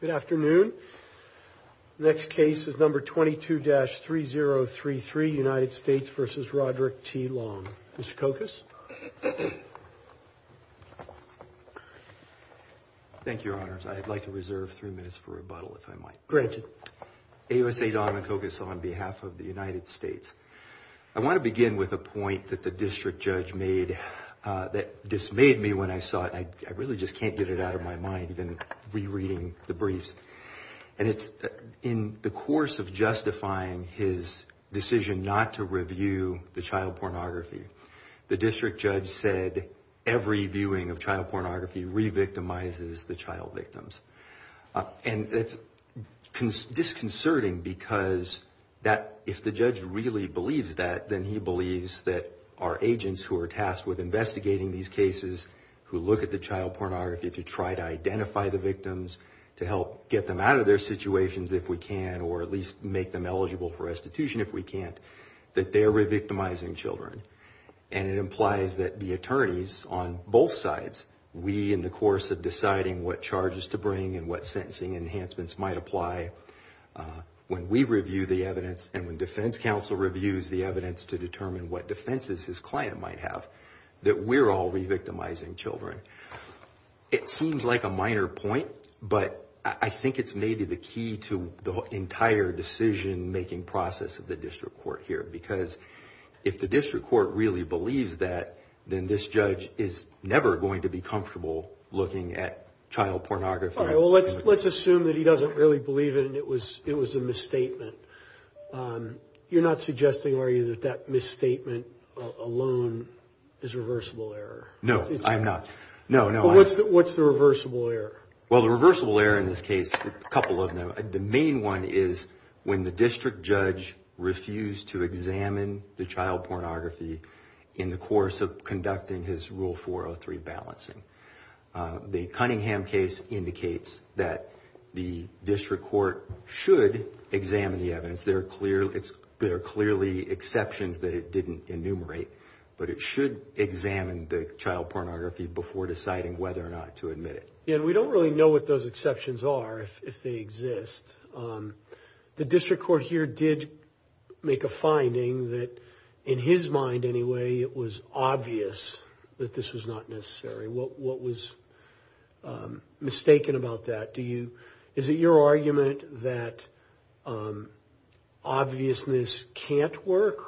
Good afternoon. Next case is number 22-3033, United States v. Roderick T. Long. Mr. Kokos. Thank you, Your Honors. I'd like to reserve three minutes for rebuttal, if I might. A.S.A. Donna Kokos on behalf of the United States. I want to begin with a point that the district judge made that dismayed me when I saw it. And I really just can't get it out of my mind, even rereading the briefs. And it's in the course of justifying his decision not to review the child pornography, the district judge said every viewing of child pornography re-victimizes the child victims. And it's disconcerting because if the judge really believes that, then he believes that our agents who are tasked with investigating these cases, who look at the child pornography to try to identify the victims, to help get them out of their situations if we can, or at least make them eligible for restitution if we can't, that they're re-victimizing children. And it implies that the attorneys on both sides, we in the course of deciding what charges to bring and what sentencing enhancements might apply, when we review the evidence and when defense counsel reviews the evidence to determine what defenses his client might have, that we're all re-victimizing children. It seems like a minor point, but I think it's maybe the key to the entire decision-making process of the district court here. Because if the district court really believes that, then this judge is never going to be comfortable looking at child pornography. All right, well, let's assume that he doesn't really believe it and it was a misstatement. You're not suggesting, are you, that that misstatement alone is a reversible error? No, I'm not. No, no. What's the reversible error? Well, the reversible error in this case, a couple of them. The main one is when the district judge refused to examine the child pornography in the course of conducting his Rule 403 balancing. The Cunningham case indicates that the district court should examine the evidence. There are clearly exceptions that it didn't enumerate, but it should examine the child pornography before deciding whether or not to admit it. Yeah, and we don't really know what those exceptions are, if they exist. The district court here did make a finding that, in his mind anyway, it was obvious that this was not necessary. What was mistaken about that? Is it your argument that obviousness can't work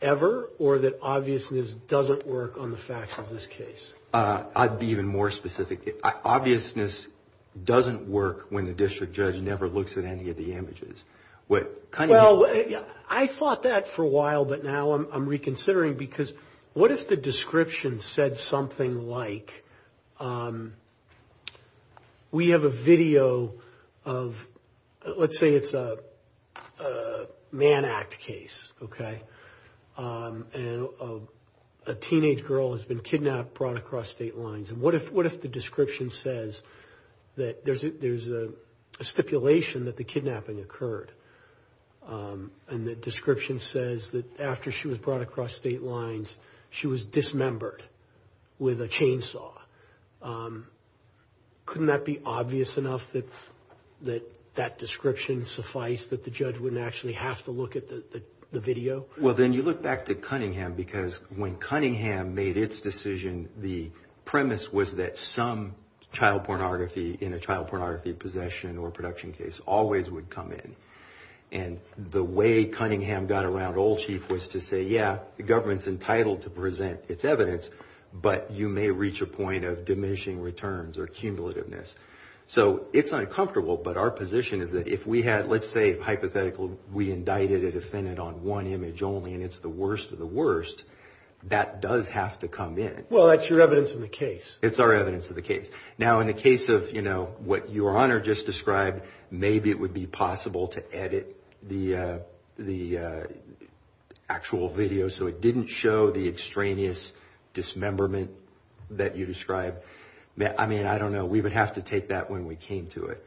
ever or that obviousness doesn't work on the facts of this case? I'd be even more specific. Obviousness doesn't work when the district judge never looks at any of the images. Well, I fought that for a while, but now I'm reconsidering because what if the description said something like, we have a video of, let's say it's a man act case, okay, and a teenage girl has been kidnapped, brought across state lines, and what if the description says that there's a stipulation that the kidnapping occurred and the description says that after she was brought across state lines, she was dismembered with a chainsaw. Couldn't that be obvious enough that that description sufficed, that the judge wouldn't actually have to look at the video? Well, then you look back to Cunningham because when Cunningham made its decision, the premise was that some child pornography in a child pornography possession or production case always would come in, and the way Cunningham got around Old Chief was to say, yeah, the government's entitled to present its evidence, but you may reach a point of diminishing returns or cumulativeness. So it's uncomfortable, but our position is that if we had, let's say, hypothetically, we indicted a defendant on one image only and it's the worst of the worst, that does have to come in. Well, that's your evidence of the case. It's our evidence of the case. Now, in the case of, you know, what Your Honor just described, maybe it would be possible to edit the actual video so it didn't show the extraneous dismemberment that you described. I mean, I don't know. We would have to take that when we came to it,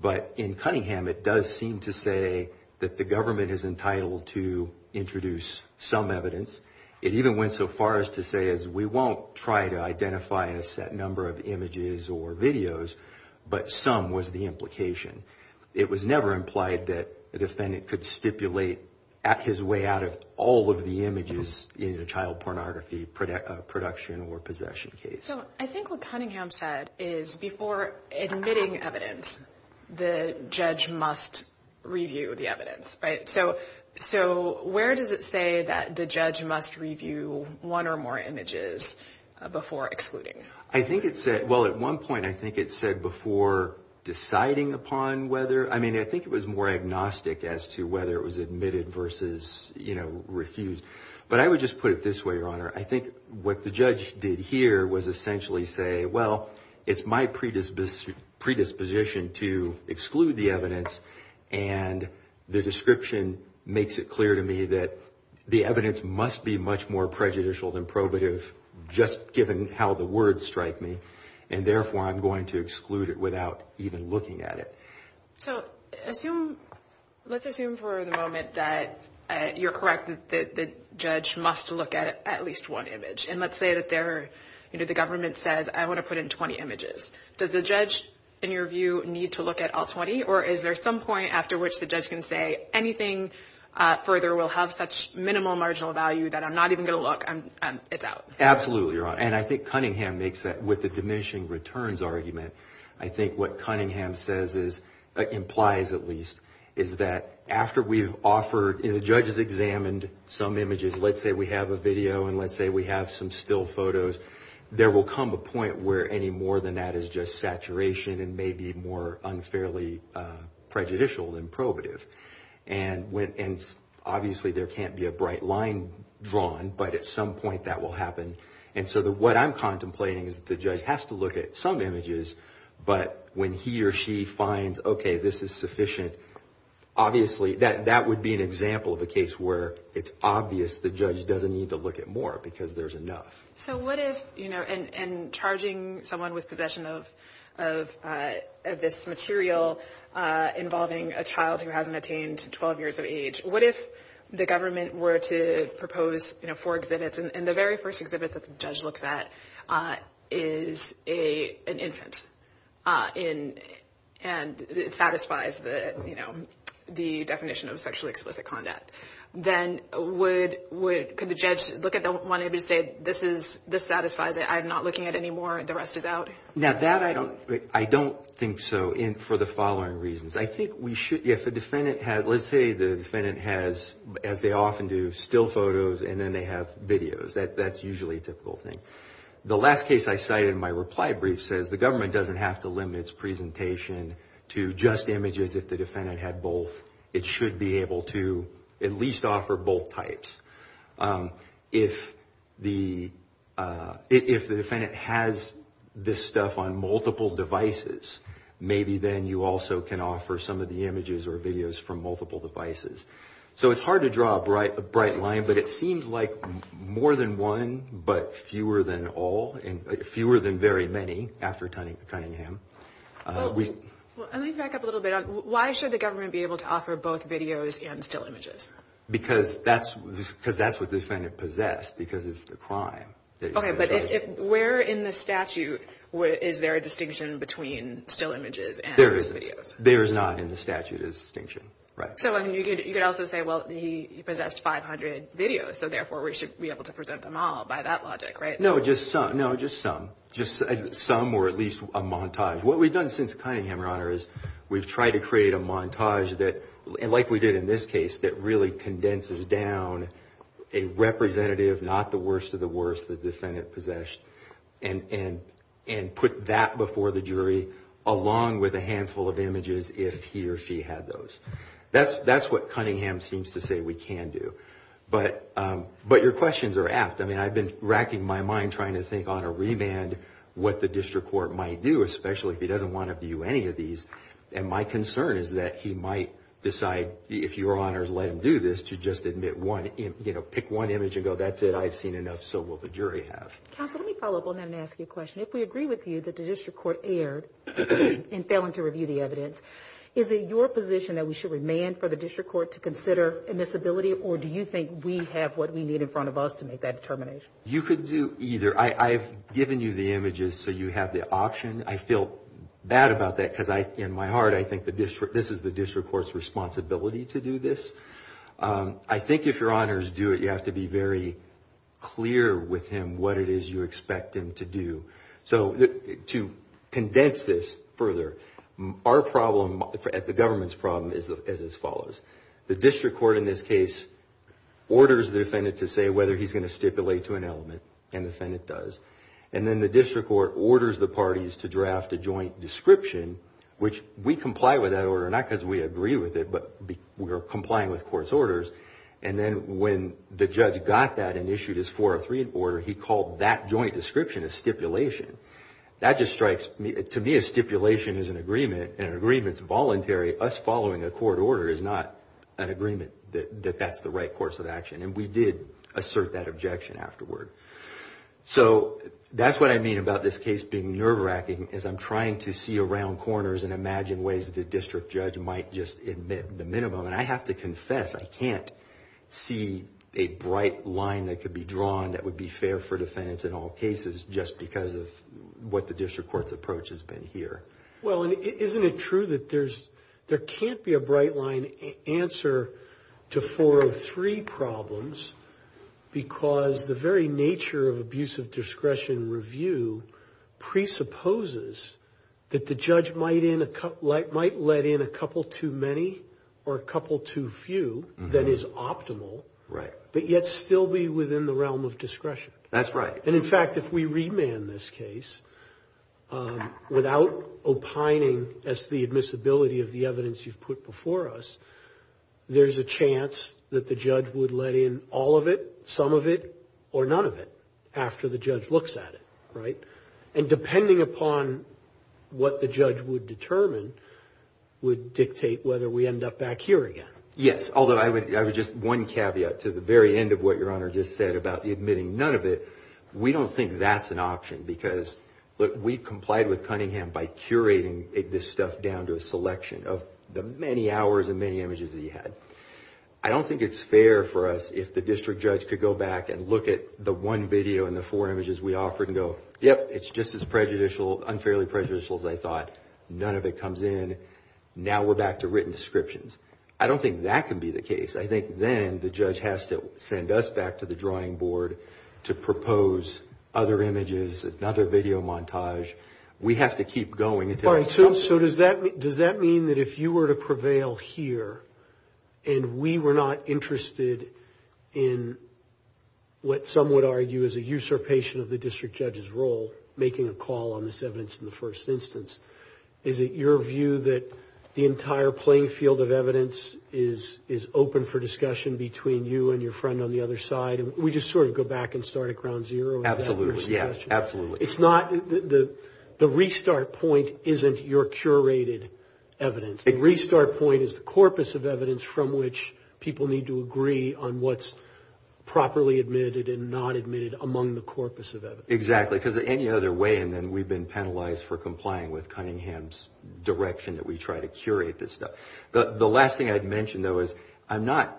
but in Cunningham it does seem to say that the government is entitled to introduce some evidence. It even went so far as to say we won't try to identify a set number of images or videos, but some was the implication. It was never implied that the defendant could stipulate at his way out of all of the images in a child pornography production or possession case. So I think what Cunningham said is before admitting evidence, the judge must review the evidence, right? So where does it say that the judge must review one or more images before excluding? Well, at one point I think it said before deciding upon whether. I mean, I think it was more agnostic as to whether it was admitted versus, you know, refused. But I would just put it this way, Your Honor. I think what the judge did here was essentially say, well, it's my predisposition to exclude the evidence and the description makes it clear to me that the evidence must be much more prejudicial than probative just given how the words strike me, and therefore I'm going to exclude it without even looking at it. So let's assume for the moment that you're correct that the judge must look at at least one image. And let's say that the government says, I want to put in 20 images. Does the judge, in your view, need to look at all 20? Or is there some point after which the judge can say, anything further will have such minimal marginal value that I'm not even going to look and it's out? Absolutely, Your Honor. And I think Cunningham makes that with the diminishing returns argument. I think what Cunningham says is, implies at least, is that after we've offered and the judge has examined some images, let's say we have a video and let's say we have some still photos, there will come a point where any more than that is just saturation and may be more unfairly prejudicial than probative. And obviously there can't be a bright line drawn, but at some point that will happen. And so what I'm contemplating is the judge has to look at some images, but when he or she finds, okay, this is sufficient, obviously that would be an example of a case where it's obvious the judge doesn't need to look at more because there's enough. So what if, you know, and charging someone with possession of this material involving a child who hasn't attained 12 years of age, what if the government were to propose four exhibits and the very first exhibit that the judge looks at is an infant and it satisfies the definition of sexually explicit conduct, then could the judge look at one and say this satisfies it, I'm not looking at any more, the rest is out? Now that I don't think so for the following reasons. I think we should, if the defendant has, let's say the defendant has, as they often do, still photos and then they have videos, that's usually a typical thing. The last case I cited in my reply brief says the government doesn't have to limit its presentation to just images if the defendant had both. It should be able to at least offer both types. If the defendant has this stuff on multiple devices, maybe then you also can offer some of the images or videos from multiple devices. So it's hard to draw a bright line, but it seems like more than one but fewer than all, fewer than very many after Cunningham. Let me back up a little bit. Why should the government be able to offer both videos and still images? Because that's what the defendant possessed because it's the crime. Okay, but where in the statute is there a distinction between still images and videos? There is not in the statute a distinction. So you could also say, well, he possessed 500 videos, so therefore we should be able to present them all by that logic, right? No, just some. Some or at least a montage. What we've done since Cunningham, Your Honor, is we've tried to create a montage that, like we did in this case, that really condenses down a representative, not the worst of the worst, the defendant possessed, and put that before the jury along with a handful of images if he or she had those. That's what Cunningham seems to say we can do. But your questions are apt. I mean, I've been racking my mind trying to think on a remand what the district court might do, especially if he doesn't want to view any of these. And my concern is that he might decide, if Your Honors let him do this, to just admit one image, pick one image and go, that's it, I've seen enough, so will the jury have. Counsel, let me follow up on that and ask you a question. If we agree with you that the district court erred in failing to review the evidence, is it your position that we should remand for the district court to consider admissibility, or do you think we have what we need in front of us to make that determination? You could do either. I've given you the images so you have the option. I feel bad about that because in my heart I think this is the district court's responsibility to do this. I think if Your Honors do it, you have to be very clear with him what it is you expect him to do. So to condense this further, our problem at the government's problem is as follows. The district court in this case orders the defendant to say whether he's going to stipulate to an element, and the defendant does. And then the district court orders the parties to draft a joint description, which we comply with that order, not because we agree with it, but we are complying with court's orders. And then when the judge got that and issued his 403 order, he called that joint description a stipulation. That just strikes me, to me a stipulation is an agreement, and an agreement is voluntary. Us following a court order is not an agreement that that's the right course of action. And we did assert that objection afterward. So that's what I mean about this case being nerve-wracking is I'm trying to see around corners and imagine ways that the district judge might just admit the minimum. And I have to confess I can't see a bright line that could be drawn that would be fair for defendants in all cases just because of what the district court's approach has been here. Well, and isn't it true that there can't be a bright line answer to 403 problems because the very nature of abuse of discretion review presupposes that the judge might let in a couple too many or a couple too few that is optimal, but yet still be within the realm of discretion. That's right. And, in fact, if we remand this case without opining as to the admissibility of the evidence you've put before us, there's a chance that the judge would let in all of it, some of it, or none of it after the judge looks at it. Right? And depending upon what the judge would determine would dictate whether we end up back here again. Yes, although I would just one caveat to the very end of what Your Honor just said about admitting none of it. We don't think that's an option because, look, we complied with Cunningham by curating this stuff down to a selection of the many hours and many images that he had. I don't think it's fair for us if the district judge could go back and look at the one video and the four images we offered and go, yep, it's just as unfairly prejudicial as I thought. None of it comes in. Now we're back to written descriptions. I don't think that can be the case. I think then the judge has to send us back to the drawing board to propose other images, another video montage. We have to keep going until it's solved. So does that mean that if you were to prevail here and we were not interested in what some would argue is a usurpation of the entire playing field of evidence is open for discussion between you and your friend on the other side? We just sort of go back and start at ground zero? Absolutely, yes, absolutely. The restart point isn't your curated evidence. The restart point is the corpus of evidence from which people need to agree on what's properly admitted and not admitted among the corpus of evidence. Exactly, because any other way and then we've been penalized for complying with Cunningham's direction that we try to curate this stuff. The last thing I'd mention, though, is I'm not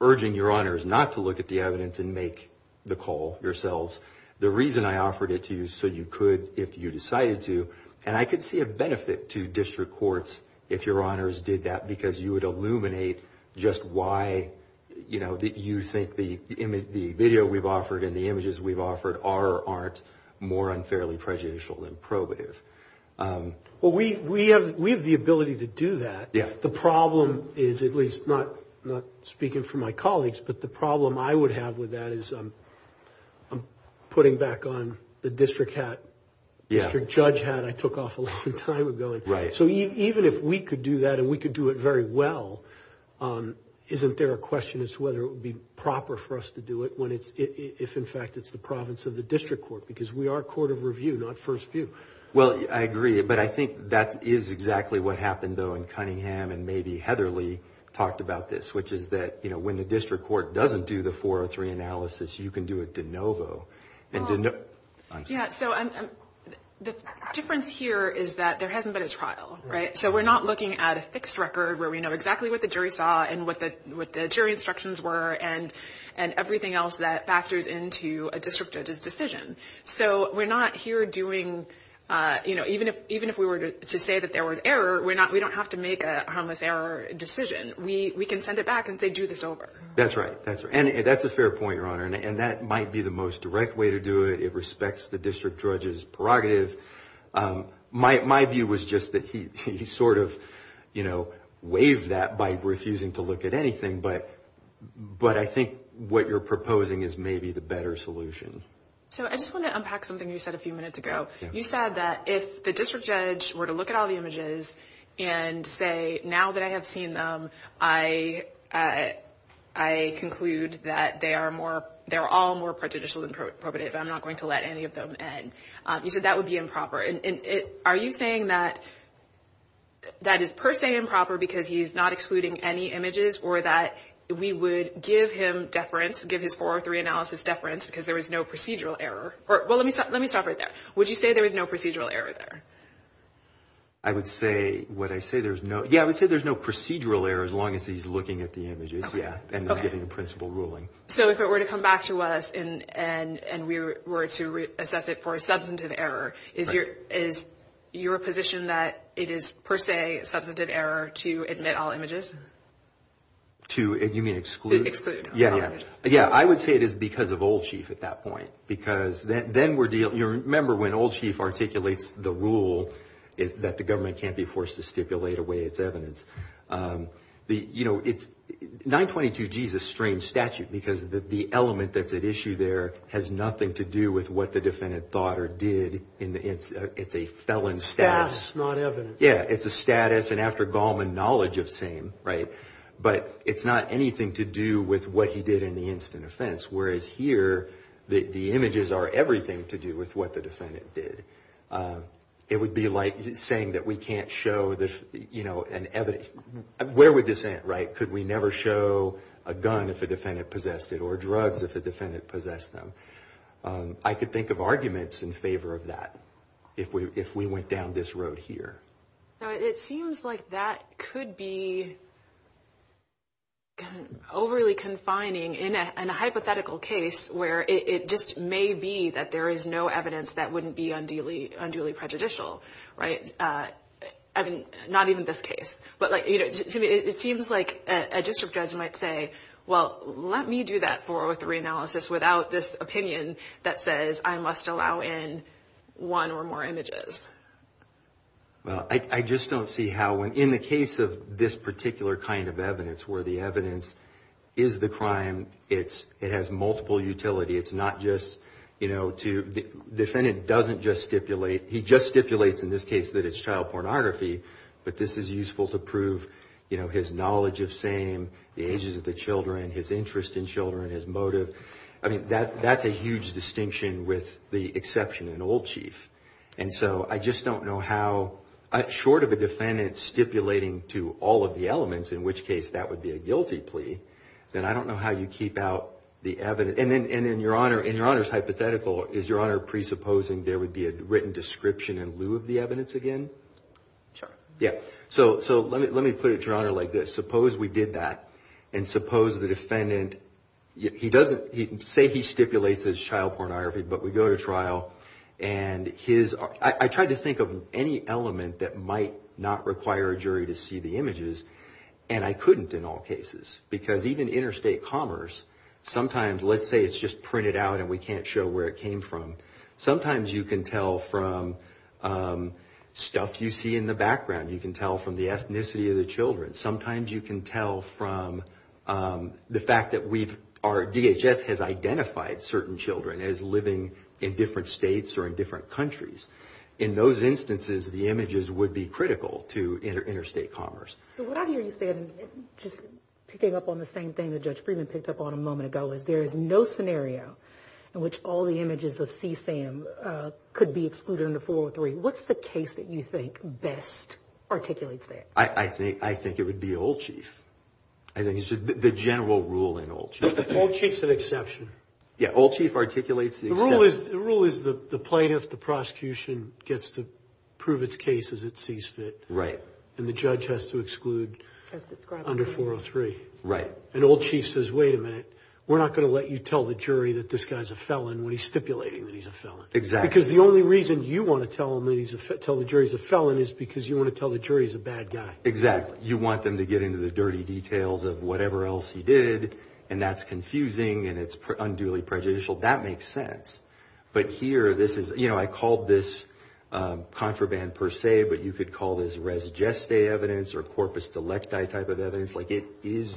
urging your honors not to look at the evidence and make the call yourselves. The reason I offered it to you so you could if you decided to, and I could see a benefit to district courts if your honors did that because you would illuminate just why you think the video we've offered and the images we've offered are or aren't more unfairly prejudicial than probative. We have the ability to do that. The problem is, at least not speaking for my colleagues, but the problem I would have with that is I'm putting back on the district judge hat I took off a long time ago. Even if we could do that and we could do it very well, isn't there a question as to whether it would be proper for us to do it if, in fact, it's the province of the district court? Because we are a court of review, not first view. Well, I agree, but I think that is exactly what happened, though, in Cunningham and maybe Heather Lee talked about this, which is that when the district court doesn't do the 403 analysis, you can do it de novo. Yeah, so the difference here is that there hasn't been a trial, right? So we're not looking at a fixed record where we know exactly what the jury saw and what the jury instructions were and everything else that factors into a district judge's decision. So we're not here doing, you know, even if we were to say that there was error, we don't have to make a harmless error decision. We can send it back and say, do this over. That's right. And that's a fair point, Your Honor, and that might be the most direct way to do it. It respects the district judge's prerogative. My view was just that he sort of, you know, waived that by refusing to look at anything, but I think what you're proposing is maybe the better solution. So I just want to unpack something you said a few minutes ago. You said that if the district judge were to look at all the images and say, now that I have seen them, I conclude that they are all more prejudicial than probative, I'm not going to let any of them in. You said that would be improper. Are you saying that that is per se improper because he's not excluding any images or that we would give him deference, give his 403 analysis deference because there was no procedural error? Well, let me stop right there. Would you say there was no procedural error there? I would say, would I say there's no – yeah, I would say there's no procedural error as long as he's looking at the images, yeah, and then giving a principle ruling. So if it were to come back to us and we were to assess it for a substantive error, is your position that it is per se substantive error to admit all images? To – you mean exclude? Exclude all images. Yeah, I would say it is because of Old Chief at that point because then we're dealing – you remember when Old Chief articulates the rule that the government can't be forced to stipulate away its evidence. You know, it's – 922G is a strange statute because the element that's at issue there has nothing to do with what the defendant thought or did. It's a felon status. Status, not evidence. Yeah, it's a status and after Gallman, knowledge of same, right? But it's not anything to do with what he did in the instant offense, whereas here the images are everything to do with what the defendant did. It would be like saying that we can't show, you know, an evidence. Where would this end, right? Could we never show a gun if a defendant possessed it or drugs if a defendant possessed them? I could think of arguments in favor of that if we went down this road here. It seems like that could be overly confining in a hypothetical case where it just may be that there is no evidence that wouldn't be unduly prejudicial, right? I mean, not even this case. But like, you know, it seems like a district judge might say, well, let me do that 403 analysis without this opinion that says I must allow in one or more images. Well, I just don't see how in the case of this particular kind of evidence where the evidence is the crime, it has multiple utility. It's not just, you know, the defendant doesn't just stipulate. He just stipulates in this case that it's child pornography, but this is useful to prove, you know, his knowledge of same, the ages of the children, his interest in children, his motive. I mean, that's a huge distinction with the exception in Old Chief. And so I just don't know how, short of a defendant stipulating to all of the elements, in which case that would be a guilty plea, then I don't know how you keep out the evidence. And then, Your Honor, in Your Honor's hypothetical, is Your Honor presupposing there would be a written description in lieu of the evidence again? Sure. Yeah. So let me put it to Your Honor like this. Suppose we did that, and suppose the defendant, he doesn't, say he stipulates as child pornography, but we go to trial, and his, I tried to think of any element that might not require a jury to see the images, and I couldn't in all cases, because even interstate commerce, sometimes let's say it's just printed out and we can't show where it came from. Sometimes you can tell from stuff you see in the background. You can tell from the ethnicity of the children. Sometimes you can tell from the fact that we've, our DHS has identified certain children as living in different states or in different countries. In those instances, the images would be critical to interstate commerce. So what I hear you say, and just picking up on the same thing that Judge Friedman picked up on a moment ago, is there is no scenario in which all the images of CSAM could be excluded under 403. What's the case that you think best articulates that? I think it would be Old Chief. I think it's the general rule in Old Chief. Old Chief's an exception. Yeah, Old Chief articulates the exception. The rule is the plaintiff, the prosecution, gets to prove its case as it sees fit. Right. And the judge has to exclude under 403. Right. And Old Chief says, wait a minute, we're not going to let you tell the jury that this guy's a felon when he's stipulating that he's a felon. Exactly. Because the only reason you want to tell the jury he's a felon is because you want to tell the jury he's a bad guy. Exactly. You want them to get into the dirty details of whatever else he did, and that's confusing and it's unduly prejudicial. That makes sense. But here, this is, you know, I called this contraband per se, but you could call this res geste evidence or corpus delecti type of evidence. Like it is,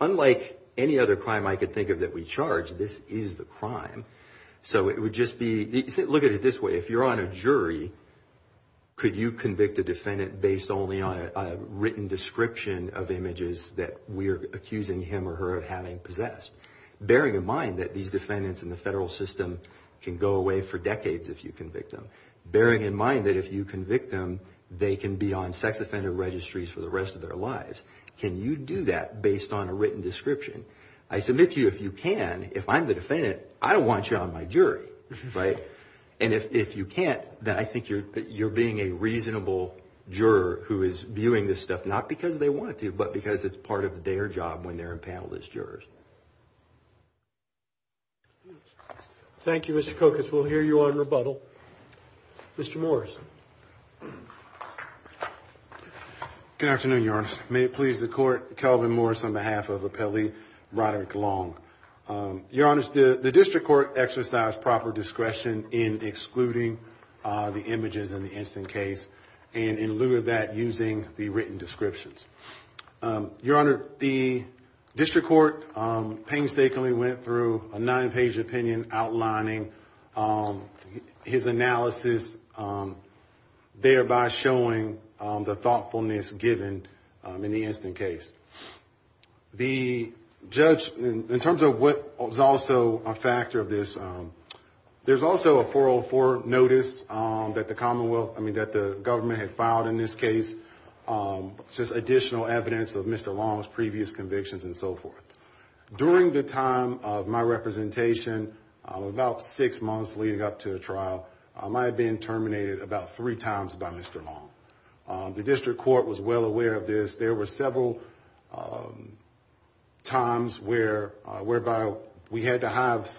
unlike any other crime I could think of that we charge, this is the crime. So it would just be, look at it this way. If you're on a jury, could you convict a defendant based only on a written description of images that we're accusing him or her of having possessed? Bearing in mind that these defendants in the federal system can go away for decades if you convict them. Bearing in mind that if you convict them, they can be on sex offender registries for the rest of their lives. Can you do that based on a written description? I submit to you if you can, if I'm the defendant, I don't want you on my jury, right? And if you can't, then I think you're being a reasonable juror who is viewing this stuff, not because they want to, but because it's part of their job when they're impaneled as jurors. Thank you, Mr. Kokos. We'll hear you on rebuttal. Mr. Morris. Good afternoon, Your Honor. May it please the Court, Calvin Morris on behalf of Appellee Roderick Long. Your Honor, the district court exercised proper discretion in excluding the images in the instant case and in lieu of that, using the written descriptions. Your Honor, the district court painstakingly went through a nine-page opinion outlining his analysis, thereby showing the thoughtfulness given in the instant case. The judge, in terms of what is also a factor of this, there's also a 404 notice that the government had filed in this case, just additional evidence of Mr. Long's previous convictions and so forth. During the time of my representation, about six months leading up to the trial, I had been terminated about three times by Mr. Long. The district court was well aware of this. There were several times whereby we had to have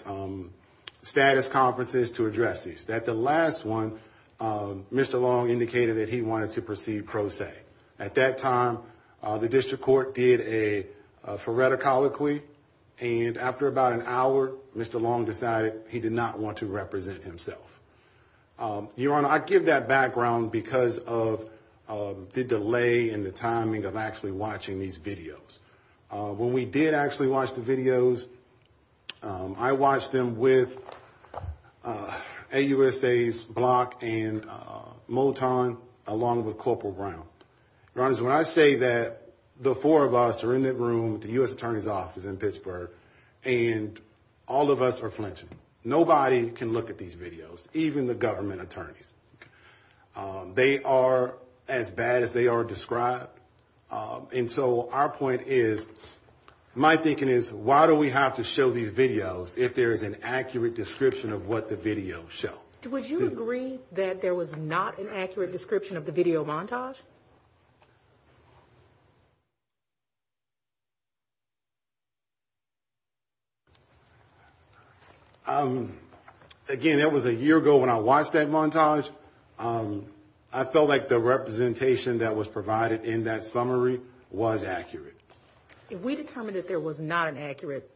status conferences to address this. At the last one, Mr. Long indicated that he wanted to proceed pro se. At that time, the district court did a phoreticology, and after about an hour, Mr. Long decided he did not want to represent himself. Your Honor, I give that background because of the delay and the timing of actually watching these videos. When we did actually watch the videos, I watched them with AUSA's Block and Moton, along with Corporal Brown. Your Honor, when I say that the four of us are in that room, the U.S. Attorney's Office in Pittsburgh, and all of us are flinching. Nobody can look at these videos, even the government attorneys. They are as bad as they are described. And so our point is, my thinking is, why do we have to show these videos if there is an accurate description of what the videos show? Would you agree that there was not an accurate description of the video montage? Again, that was a year ago when I watched that montage. I felt like the representation that was provided in that summary was accurate. If we determined that there was not an accurate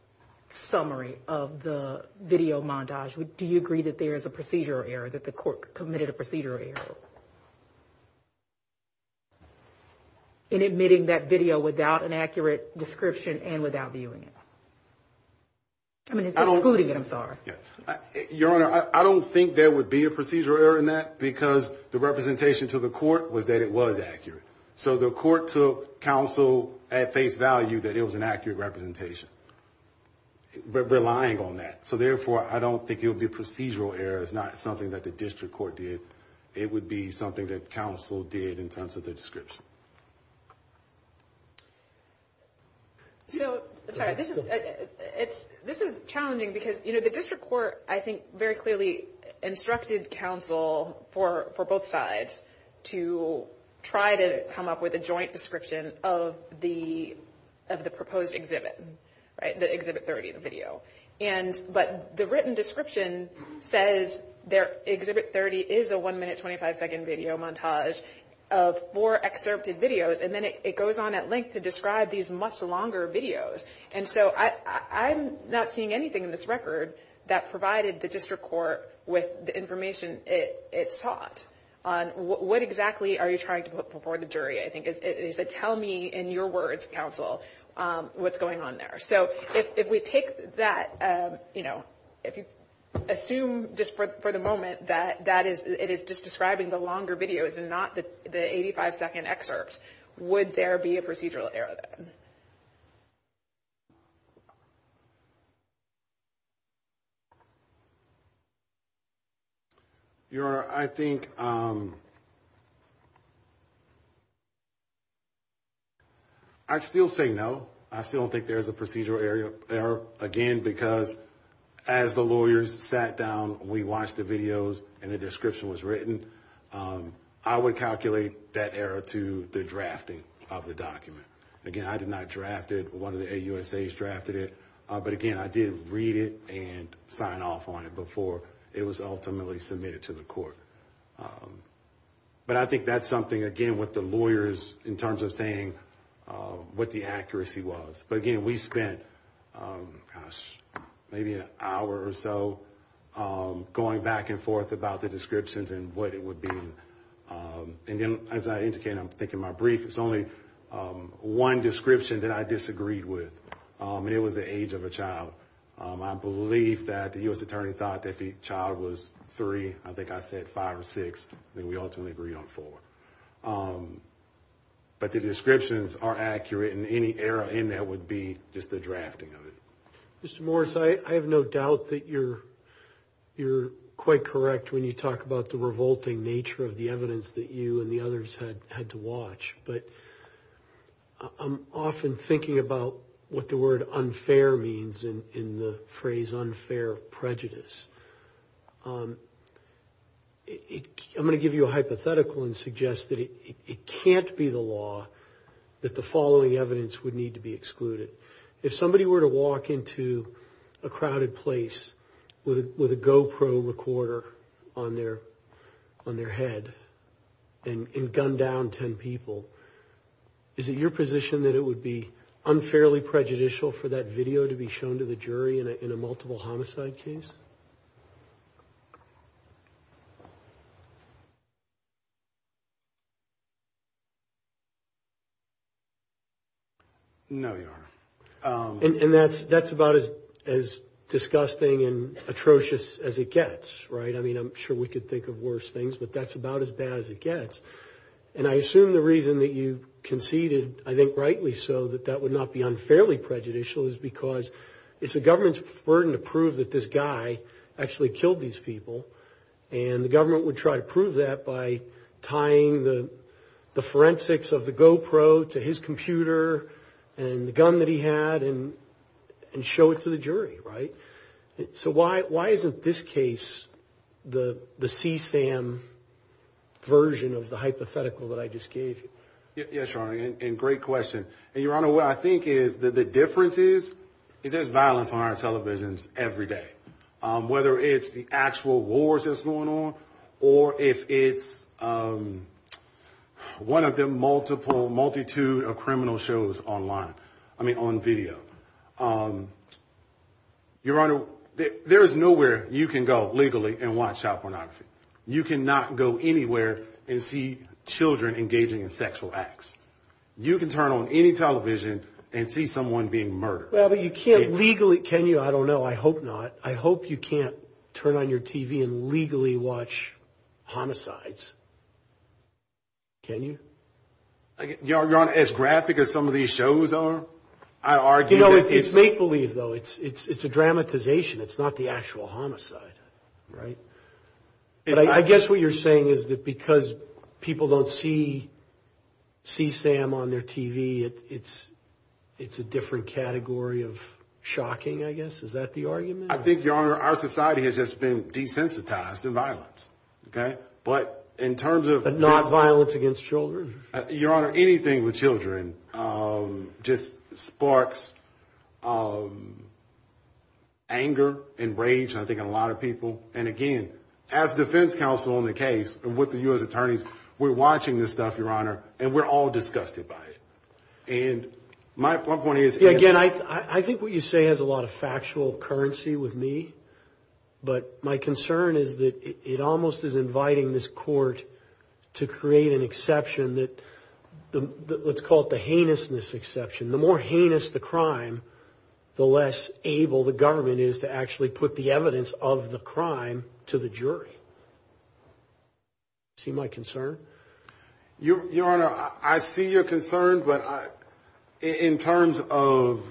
summary of the video montage, do you agree that there is a procedural error, that the court committed a procedural error in admitting that video without an accurate description and without viewing it? I mean, excluding it, I'm sorry. Your Honor, I don't think there would be a procedural error in that because the representation to the court was that it was accurate. So the court took counsel at face value that it was an accurate representation, relying on that. So therefore, I don't think it would be a procedural error. It's not something that the district court did. It would be something that counsel did in terms of the description. So, sorry, this is challenging because, you know, the district court, I think, very clearly instructed counsel for both sides to try to come up with a joint description of the proposed exhibit, the exhibit 30, the video. But the written description says exhibit 30 is a one-minute, 25-second video montage of four excerpted videos, and then it goes on at length to describe these much longer videos. And so I'm not seeing anything in this record that provided the district court with the information it sought on what exactly are you trying to put before the jury. I think it is a tell me in your words, counsel, what's going on there. So if we take that, you know, if you assume just for the moment that it is just describing the longer videos and not the 85-second excerpts, would there be a procedural error then? Your Honor, I think I'd still say no. I still don't think there's a procedural error, again, because as the lawyers sat down, we watched the videos and the description was written. I would calculate that error to the drafting of the document. Again, I did not draft it. One of the AUSAs drafted it. But, again, I did read it and sign off on it before it was ultimately submitted to the court. But I think that's something, again, with the lawyers in terms of saying what the accuracy was. But, again, we spent maybe an hour or so going back and forth about the descriptions and what it would be. And, again, as I indicated, I think in my brief, it's only one description that I disagreed with, and it was the age of a child. I believe that the U.S. Attorney thought that the child was three. I think I said five or six. I think we ultimately agreed on four. But the descriptions are accurate, and any error in that would be just the drafting of it. Mr. Morris, I have no doubt that you're quite correct when you talk about the revolting nature of the evidence that you and the others had to watch, but I'm often thinking about what the word unfair means in the phrase unfair prejudice. I'm going to give you a hypothetical and suggest that it can't be the law that the following evidence would need to be excluded. If somebody were to walk into a crowded place with a GoPro recorder on their head and gun down ten people, is it your position that it would be unfairly prejudicial for that video to be shown to the jury in a multiple homicide case? No, Your Honor. And that's about as disgusting and atrocious as it gets, right? I mean, I'm sure we could think of worse things, but that's about as bad as it gets. And I assume the reason that you conceded, I think rightly so, that that would not be unfairly prejudicial is because it's the actually killed these people, and the government would try to prove that by tying the forensics of the GoPro to his computer and the gun that he had and show it to the jury, right? So why isn't this case the CSAM version of the hypothetical that I just gave you? Yes, Your Honor, and great question. And, Your Honor, what I think is that the difference is, is there's violence on our televisions every day, whether it's the actual wars that's going on or if it's one of the multiple multitude of criminal shows online, I mean, on video. Your Honor, there is nowhere you can go legally and watch child pornography. You cannot go anywhere and see children engaging in sexual acts. You can turn on any television and see someone being murdered. Well, but you can't legally, can you? I don't know. I hope not. I hope you can't turn on your TV and legally watch homicides. Can you? Your Honor, as graphic as some of these shows are, I argue that it's... You know, it's make-believe, though. It's a dramatization. It's not the actual homicide, right? But I guess what you're saying is that because people don't see Sam on their TV, it's a different category of shocking, I guess. Is that the argument? I think, Your Honor, our society has just been desensitized to violence, okay? But in terms of... But not violence against children? Your Honor, anything with children just sparks anger and rage, I think, in a lot of people. And again, as defense counsel on the case and with the U.S. attorneys, we're watching this stuff, Your Honor, and we're all disgusted by it. And my point is... Yeah, again, I think what you say has a lot of factual currency with me. But my concern is that it almost is inviting this court to create an exception that let's call it the heinousness exception. The more heinous the crime, the less able the government is to actually put the evidence of the crime to the jury. See my concern? Your Honor, I see your concern, but in terms of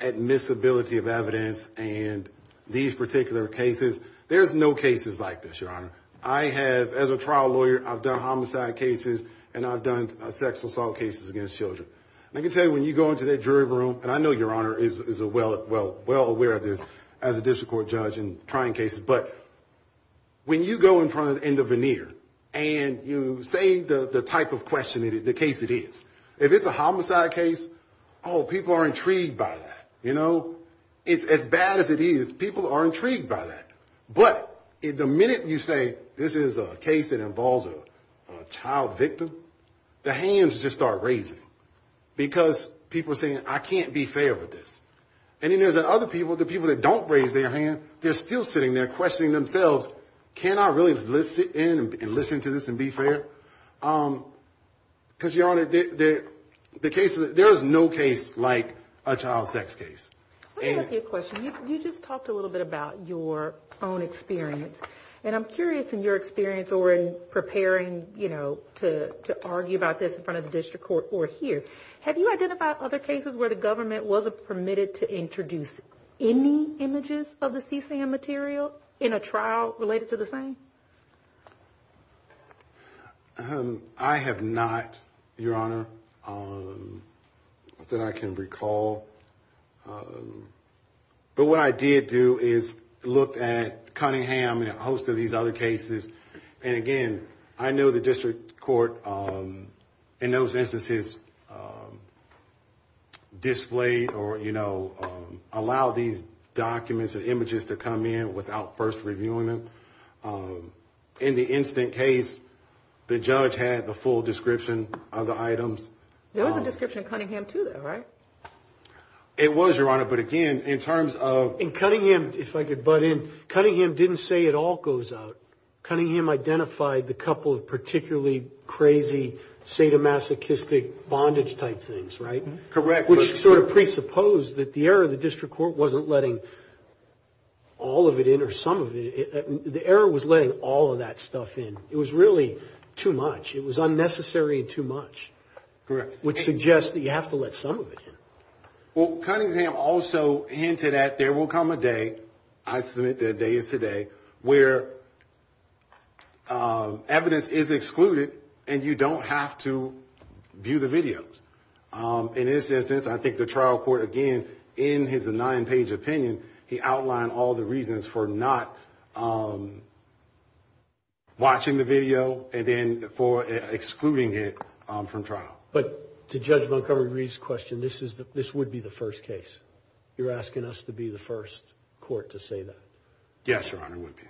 admissibility of evidence and these particular cases, there's no cases like this, Your Honor. I have, as a trial lawyer, I've done homicide cases and I've done sex assault cases against children. And I can tell you when you go into that jury room, and I know Your Honor is well aware of this as a district court judge in trying cases, but when you go in front of the veneer and you say the type of question, the case it is, if it's a homicide case, oh, people are intrigued by that. You know? It's as bad as it is, people are intrigued by that. But the minute you say this is a case that involves a child victim, the hands just start raising because people are saying, I can't be fair with this. And then there's other people, the people that don't raise their hand, they're still sitting there questioning themselves, can I really sit in and listen to this and be fair? Because, Your Honor, there is no case like a child sex case. Let me ask you a question. You just talked a little bit about your own experience. And I'm curious in your experience or in preparing, you know, to argue about this in front of the district court or here, have you identified other cases where the government wasn't permitted to introduce any images of the CSAM material in a trial related to the same? I have not, Your Honor, that I can recall. But what I did do is look at Cunningham and a host of these other cases. And again, I know the district court in those instances displayed or, you know, allowed these documents and images to come in without first reviewing them. In the instant case, the judge had the full description of the items. There was a description of Cunningham, too, though, right? It was, Your Honor. In Cunningham, if I could butt in, Cunningham didn't say it all goes out. Cunningham identified the couple of particularly crazy sadomasochistic bondage-type things, right? Correct. Which sort of presupposed that the error of the district court wasn't letting all of it in or some of it in. The error was letting all of that stuff in. It was really too much. It was unnecessary and too much. Correct. Which suggests that you have to let some of it in. Well, Cunningham also hinted at there will come a day, I submit that day is today, where evidence is excluded and you don't have to view the videos. In this instance, I think the trial court, again, in his nine-page opinion, he outlined all the reasons for not watching the video and then for excluding it from trial. But to Judge Montgomery-Reed's question, this would be the first case. You're asking us to be the first court to say that? Yes, Your Honor, it would be.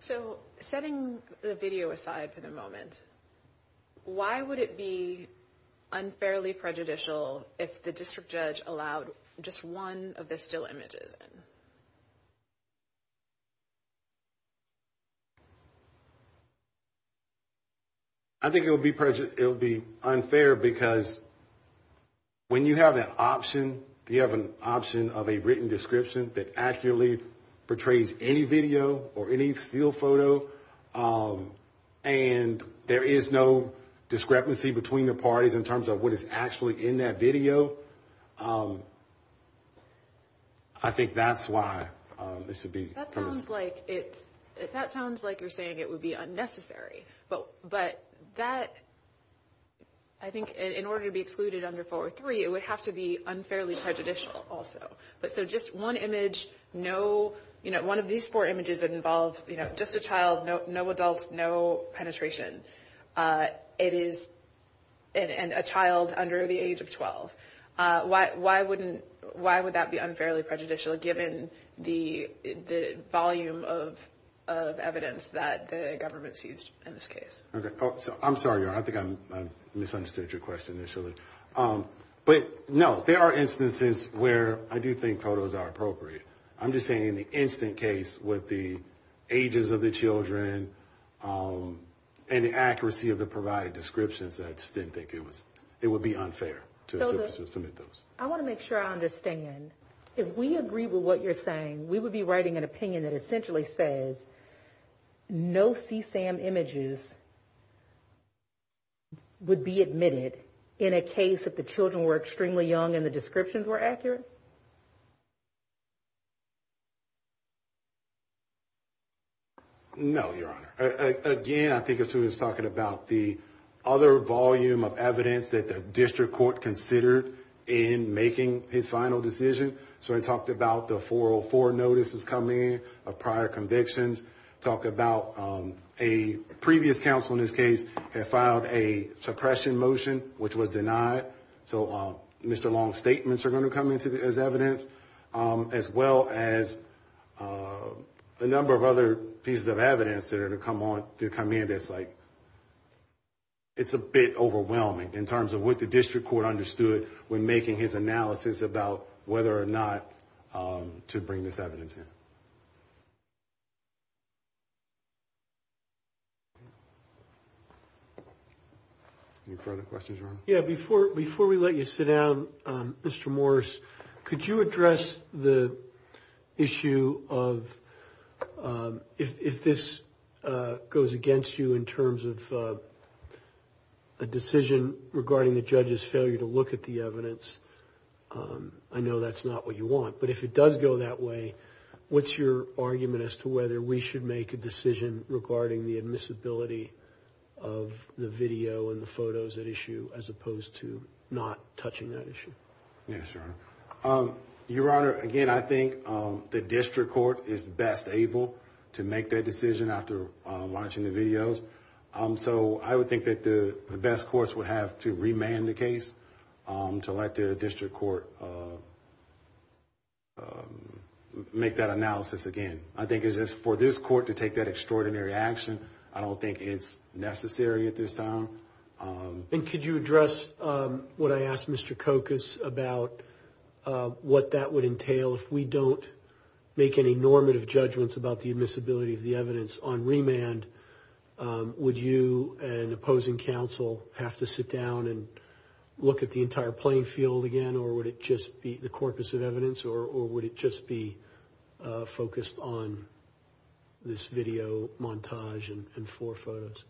So setting the video aside for the moment, why would it be unfairly prejudicial if the district judge allowed just one of the still images in? I think it would be unfair because when you have that option, you have an option of a written description that accurately portrays any video or any still photo, and there is no discrepancy between the parties in terms of what is actually in that video. I think that's why it should be. That sounds like you're saying it would be unnecessary. But that, I think in order to be excluded under four or three, it would have to be unfairly prejudicial also. So just one image, one of these four images that involve just a child, no adults, no penetration, and a child under the age of 12. Why would that be unfairly prejudicial given the volume of evidence that the government seized in this case? I'm sorry, Your Honor. I think I misunderstood your question initially. But no, there are instances where I do think photos are appropriate. I'm just saying in the instant case with the ages of the children and the accuracy of the provided descriptions, I just didn't think it would be unfair to submit those. I want to make sure I understand. If we agree with what you're saying, we would be writing an opinion that essentially says no CSAM images would be admitted in a case that the children were extremely young and the descriptions were accurate? No, Your Honor. Again, I think it's who was talking about the other volume of evidence that the district court considered in making his final decision. So I talked about the 404 notices coming in of prior convictions. Talked about a previous counsel in this case had filed a suppression motion which was denied. So Mr. Long's statements are going to come in as evidence as well as a number of other pieces of evidence that are going to come in. It's a bit overwhelming in terms of what the district court understood when making his analysis about whether or not to bring this evidence in. Any further questions, Your Honor? Yeah, before we let you sit down, Mr. Morris, could you address the issue of if this goes against you in terms of a decision regarding the judge's failure to look at the evidence, I know that's not what you want. But if it does go that way, what's your argument as to whether we should make a decision regarding the admissibility of the video and the photos at issue as opposed to not touching that issue? Yes, Your Honor. Your Honor, again, I think the district court is best able to make that decision after watching the videos. So I would think that the best course would have to remand the case to let the district court make that analysis again. I think it's for this court to take that extraordinary action. I don't think it's necessary at this time. And could you address what I asked Mr. Kokas about what that would entail if we don't make any normative judgments about the admissibility of the evidence on remand? Would you and opposing counsel have to sit down and look at the entire playing field again or would it just be the corpus of evidence or would it just be focused on this video montage and four photos?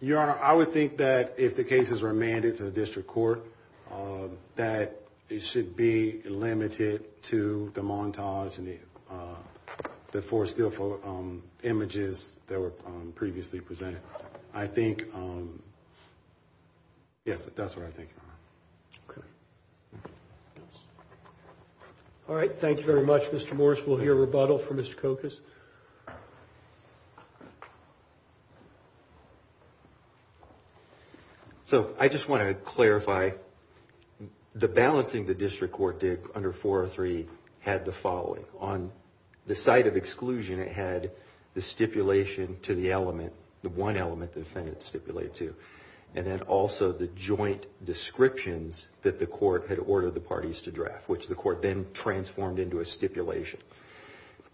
Your Honor, I would think that if the case is remanded to the district court that it should be limited to the montage and the four still images that were previously presented. I think, yes, that's what I think, Your Honor. Okay. All right. Thank you very much, Mr. Morris. We'll hear rebuttal from Mr. Kokas. So I just want to clarify the balancing the district court did under 403 had the following. On the side of exclusion it had the stipulation to the element, the one element the defendant stipulated to, and then also the joint descriptions that the court had ordered the parties to draft, which the court then transformed into a stipulation.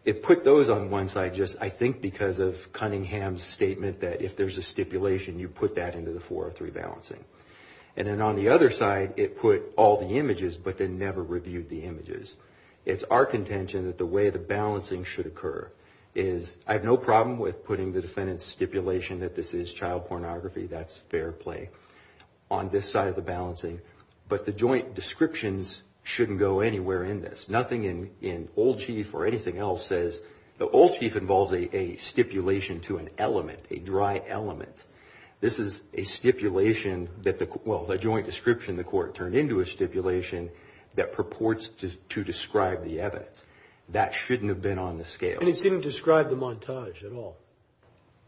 It put those on one side just I think because of Cunningham's statement that if there's a stipulation you put that into the 403 balancing. And then on the other side it put all the images but then never reviewed the images. It's our contention that the way the balancing should occur is I have no problem with putting the defendant's stipulation that this is child pornography, that's fair play, on this side of the balancing. But the joint descriptions shouldn't go anywhere in this. Nothing in Old Chief or anything else says the Old Chief involves a stipulation to an element, a dry element. This is a stipulation that the joint description the court turned into a stipulation that purports to describe the evidence. That shouldn't have been on the scale. And it didn't describe the montage at all.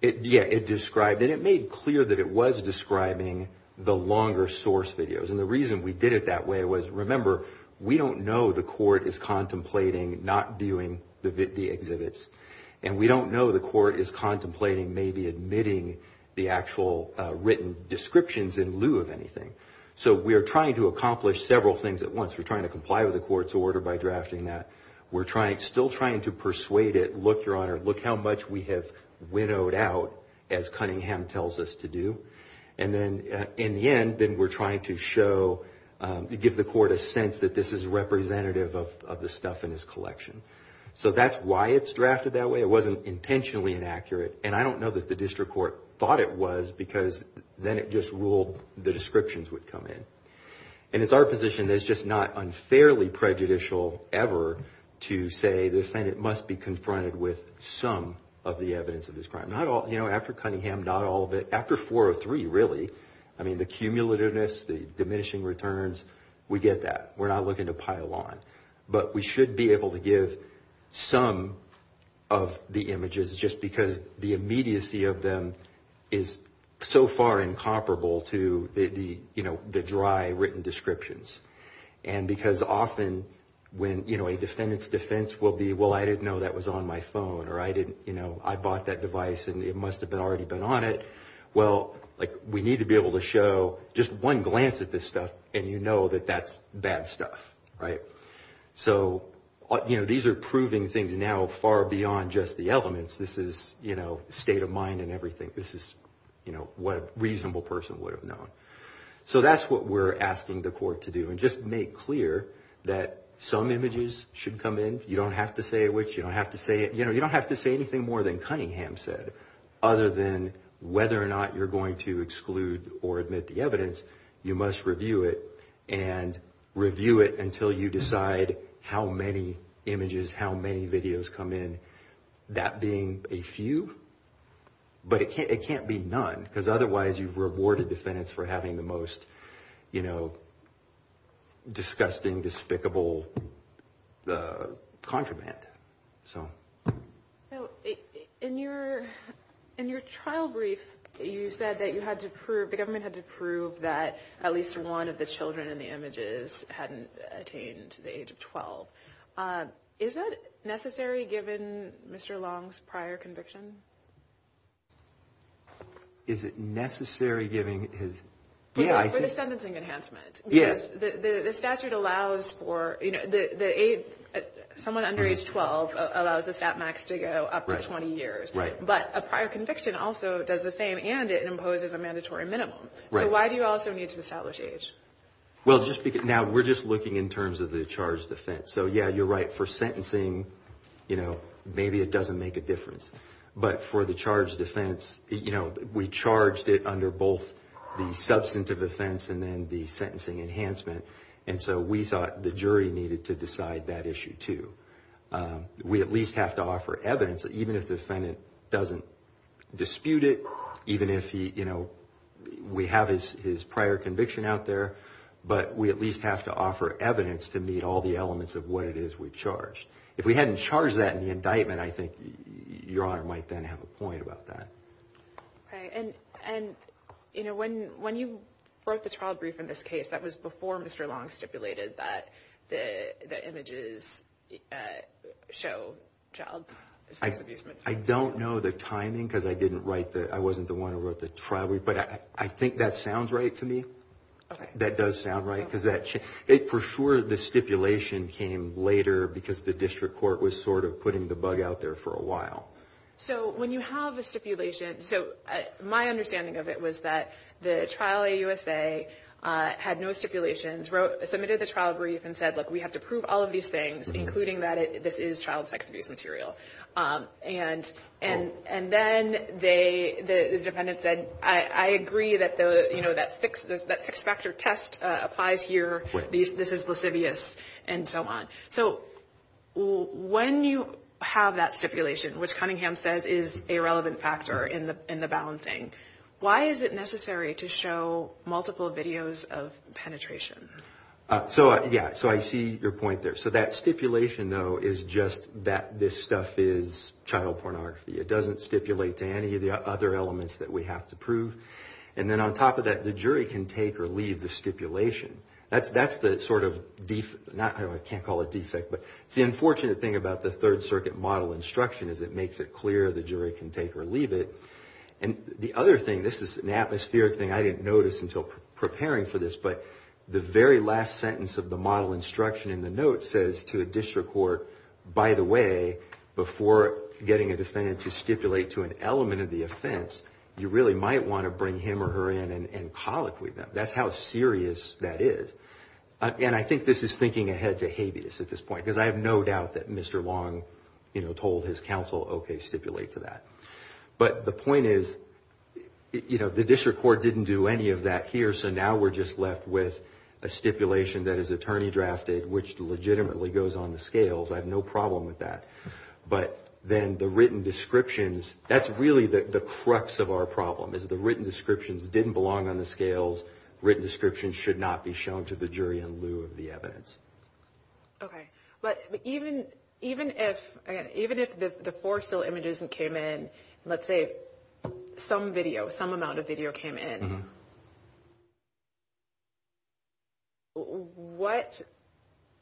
Yeah, it described it. It made clear that it was describing the longer source videos. And the reason we did it that way was remember we don't know the court is contemplating not viewing the exhibits. And we don't know the court is contemplating maybe admitting the actual written descriptions in lieu of anything. So we are trying to accomplish several things at once. We're trying to comply with the court's order by drafting that. We're still trying to persuade it, look, Your Honor, look how much we have winnowed out as Cunningham tells us to do. And then in the end, then we're trying to show, give the court a sense that this is representative of the stuff in his collection. So that's why it's drafted that way. It wasn't intentionally inaccurate. And I don't know that the district court thought it was because then it just ruled the descriptions would come in. And it's our position that it's just not unfairly prejudicial ever to say the defendant must be confronted with some of the evidence of this crime. Not all, you know, after Cunningham, not all of it. After 403, really. I mean, the cumulativeness, the diminishing returns, we get that. We're not looking to pile on. But we should be able to give some of the images just because the immediacy of them is so far incomparable to the, you know, the dry written descriptions. And because often when, you know, a defendant's defense will be, well, I didn't know that was on my phone. Or I didn't, you know, I bought that device and it must have already been on it. Well, like we need to be able to show just one glance at this stuff and you know that that's bad stuff. Right. So, you know, these are proving things now far beyond just the elements. This is, you know, state of mind and everything. This is, you know, what a reasonable person would have known. So that's what we're asking the court to do. And just make clear that some images should come in. You don't have to say which. You don't have to say it. You know, you don't have to say anything more than Cunningham said other than whether or not you're going to exclude or admit the evidence. You must review it and review it until you decide how many images, how many videos come in. That being a few. But it can't be none because otherwise you've rewarded defendants for having the most, you know, disgusting, despicable contraband. So. In your trial brief, you said that you had to prove, the government had to prove that at least one of the children in the images hadn't attained the age of 12. Is it necessary given Mr. Long's prior conviction? Is it necessary giving his. Yeah. For the sentencing enhancement. Yes. Because the statute allows for, you know, someone under age 12 allows the stat max to go up to 20 years. Right. But a prior conviction also does the same and it imposes a mandatory minimum. Right. So why do you also need to establish age? Well, just because now we're just looking in terms of the charge defense. So, yeah, you're right. For sentencing, you know, maybe it doesn't make a difference. But for the charge defense, you know, we charged it under both the substantive offense and then the sentencing enhancement. And so we thought the jury needed to decide that issue, too. We at least have to offer evidence, even if the defendant doesn't dispute it, even if he, you know, we have his prior conviction out there. But we at least have to offer evidence to meet all the elements of what it is we charged. If we hadn't charged that in the indictment, I think Your Honor might then have a point about that. And, you know, when you wrote the trial brief in this case, that was before Mr. Long stipulated that the images show child abuse. I don't know the timing because I didn't write that. I wasn't the one who wrote the trial. But I think that sounds right to me. That does sound right because that for sure the stipulation came later because the district court was sort of putting the bug out there for a while. So when you have a stipulation, so my understanding of it was that the trial AUSA had no stipulations, submitted the trial brief, and said, look, we have to prove all of these things, including that this is child sex abuse material. And then the defendant said, I agree that, you know, that six-factor test applies here. This is lascivious and so on. So when you have that stipulation, which Cunningham says is a relevant factor in the balancing, why is it necessary to show multiple videos of penetration? So, yeah, so I see your point there. So that stipulation, though, is just that this stuff is child pornography. It doesn't stipulate to any of the other elements that we have to prove. And then on top of that, the jury can take or leave the stipulation. That's the sort of, I can't call it defect, but it's the unfortunate thing about the Third Circuit model instruction is it makes it clear the jury can take or leave it. And the other thing, this is an atmospheric thing, I didn't notice until preparing for this, but the very last sentence of the model instruction in the note says to a district court, by the way, before getting a defendant to stipulate to an element of the offense, you really might want to bring him or her in and colloquy them. That's how serious that is. And I think this is thinking ahead to habeas at this point, because I have no doubt that Mr. Long told his counsel, okay, stipulate to that. But the point is, you know, the district court didn't do any of that here, so now we're just left with a stipulation that is attorney drafted, which legitimately goes on the scales. I have no problem with that. But then the written descriptions, that's really the crux of our problem, is the written descriptions didn't belong on the scales. Written descriptions should not be shown to the jury in lieu of the evidence. Okay. But even if the four still images came in, let's say some video, some amount of video came in, what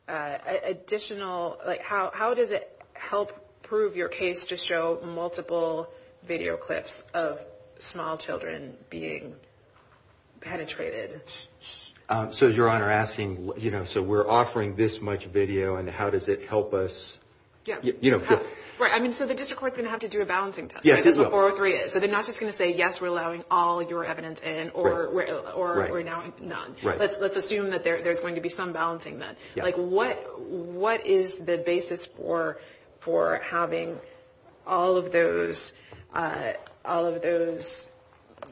additional, like, how does it help prove your case to show multiple video clips of small children being penetrated? So is Your Honor asking, you know, so we're offering this much video, and how does it help us? Yeah. You know. Right. I mean, so the district court's going to have to do a balancing test. Yes. That's what 403 is. Okay. So they're not just going to say, yes, we're allowing all your evidence in, or we're allowing none. Right. Let's assume that there's going to be some balancing then. Yeah. Like, what is the basis for having all of those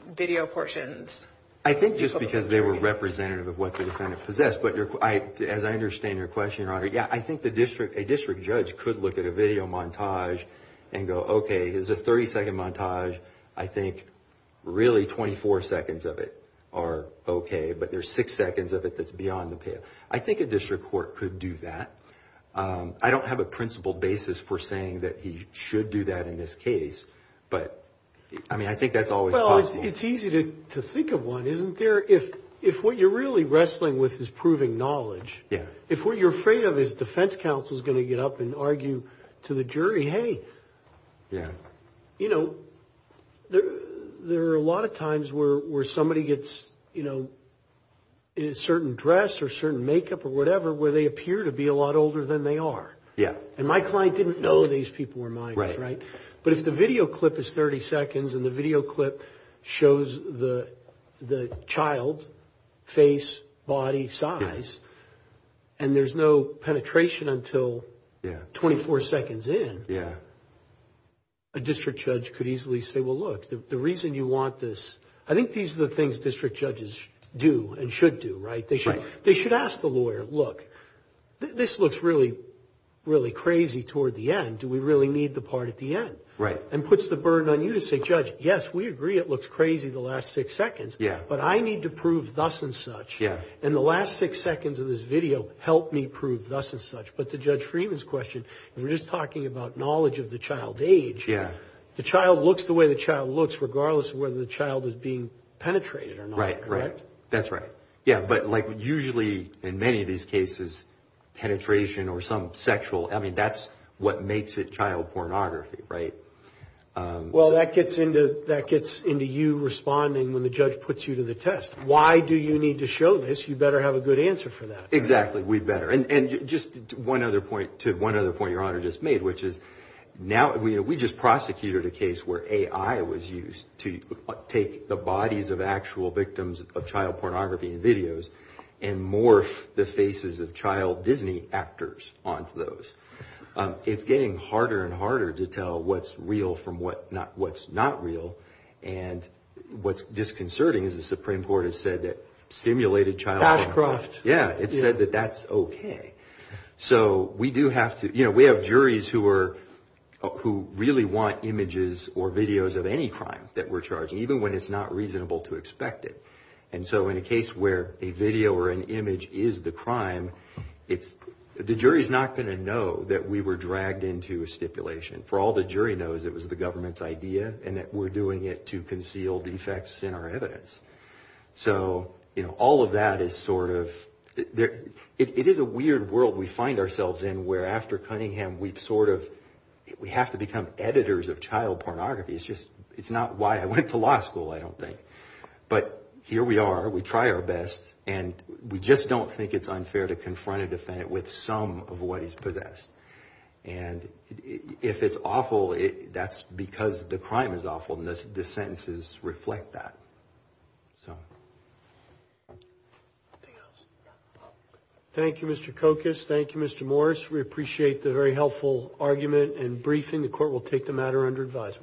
video portions? I think just because they were representative of what the defendant possessed. But as I understand your question, Your Honor, yeah, I think a district judge could look at a video montage and go, okay, here's a 30-second montage. I think, really, 24 seconds of it are okay, but there's six seconds of it that's beyond the payoff. I think a district court could do that. I don't have a principled basis for saying that he should do that in this case, but, I mean, I think that's always possible. Well, it's easy to think of one, isn't there? If what you're really wrestling with is proving knowledge. Yeah. If what you're afraid of is defense counsel is going to get up and argue to the jury, hey. Yeah. You know, there are a lot of times where somebody gets, you know, in a certain dress or certain makeup or whatever, where they appear to be a lot older than they are. Yeah. And my client didn't know these people were minors. Right. But if the video clip is 30 seconds and the video clip shows the child, face, body, size, and there's no penetration until 24 seconds in, a district judge could easily say, well, look, the reason you want this. I think these are the things district judges do and should do, right? Right. They should ask the lawyer, look, this looks really, really crazy toward the end. Do we really need the part at the end? And puts the burden on you to say, judge, yes, we agree it looks crazy the last six seconds. Yeah. But I need to prove thus and such. Yeah. And the last six seconds of this video helped me prove thus and such. But to Judge Freeman's question, we're just talking about knowledge of the child's age. Yeah. The child looks the way the child looks regardless of whether the child is being penetrated or not. Right, right. Correct? That's right. Yeah, but like usually in many of these cases, penetration or some sexual, I mean, that's what makes it child pornography, right? Well, that gets into you responding when the judge puts you to the test. Why do you need to show this? You better have a good answer for that. Exactly. We better. And just one other point to one other point Your Honor just made, which is now we just prosecuted a case where AI was used to take the bodies of actual victims of child pornography and videos and morph the faces of child Disney actors onto those. It's getting harder and harder to tell what's real from what's not real. And what's disconcerting is the Supreme Court has said that simulated child pornography. Hashcroft. Yeah. It said that that's okay. So we do have to, you know, we have juries who are who really want images or videos of any crime that we're charging, even when it's not reasonable to expect it. And so in a case where a video or an image is the crime, it's the jury is not going to know that we were dragged into a stipulation. For all the jury knows, it was the government's idea and that we're doing it to conceal defects in our evidence. So, you know, all of that is sort of there. It is a weird world we find ourselves in where after Cunningham, we've sort of we have to become editors of child pornography. It's just it's not why I went to law school. I don't think. But here we are. We try our best and we just don't think it's unfair to confront a defendant with some of what he's possessed. And if it's awful, that's because the crime is awful. And this sentence is reflect that. Thank you, Mr. Cocos. Thank you, Mr. Morris. We appreciate the very helpful argument and briefing. The court will take the matter under advisement.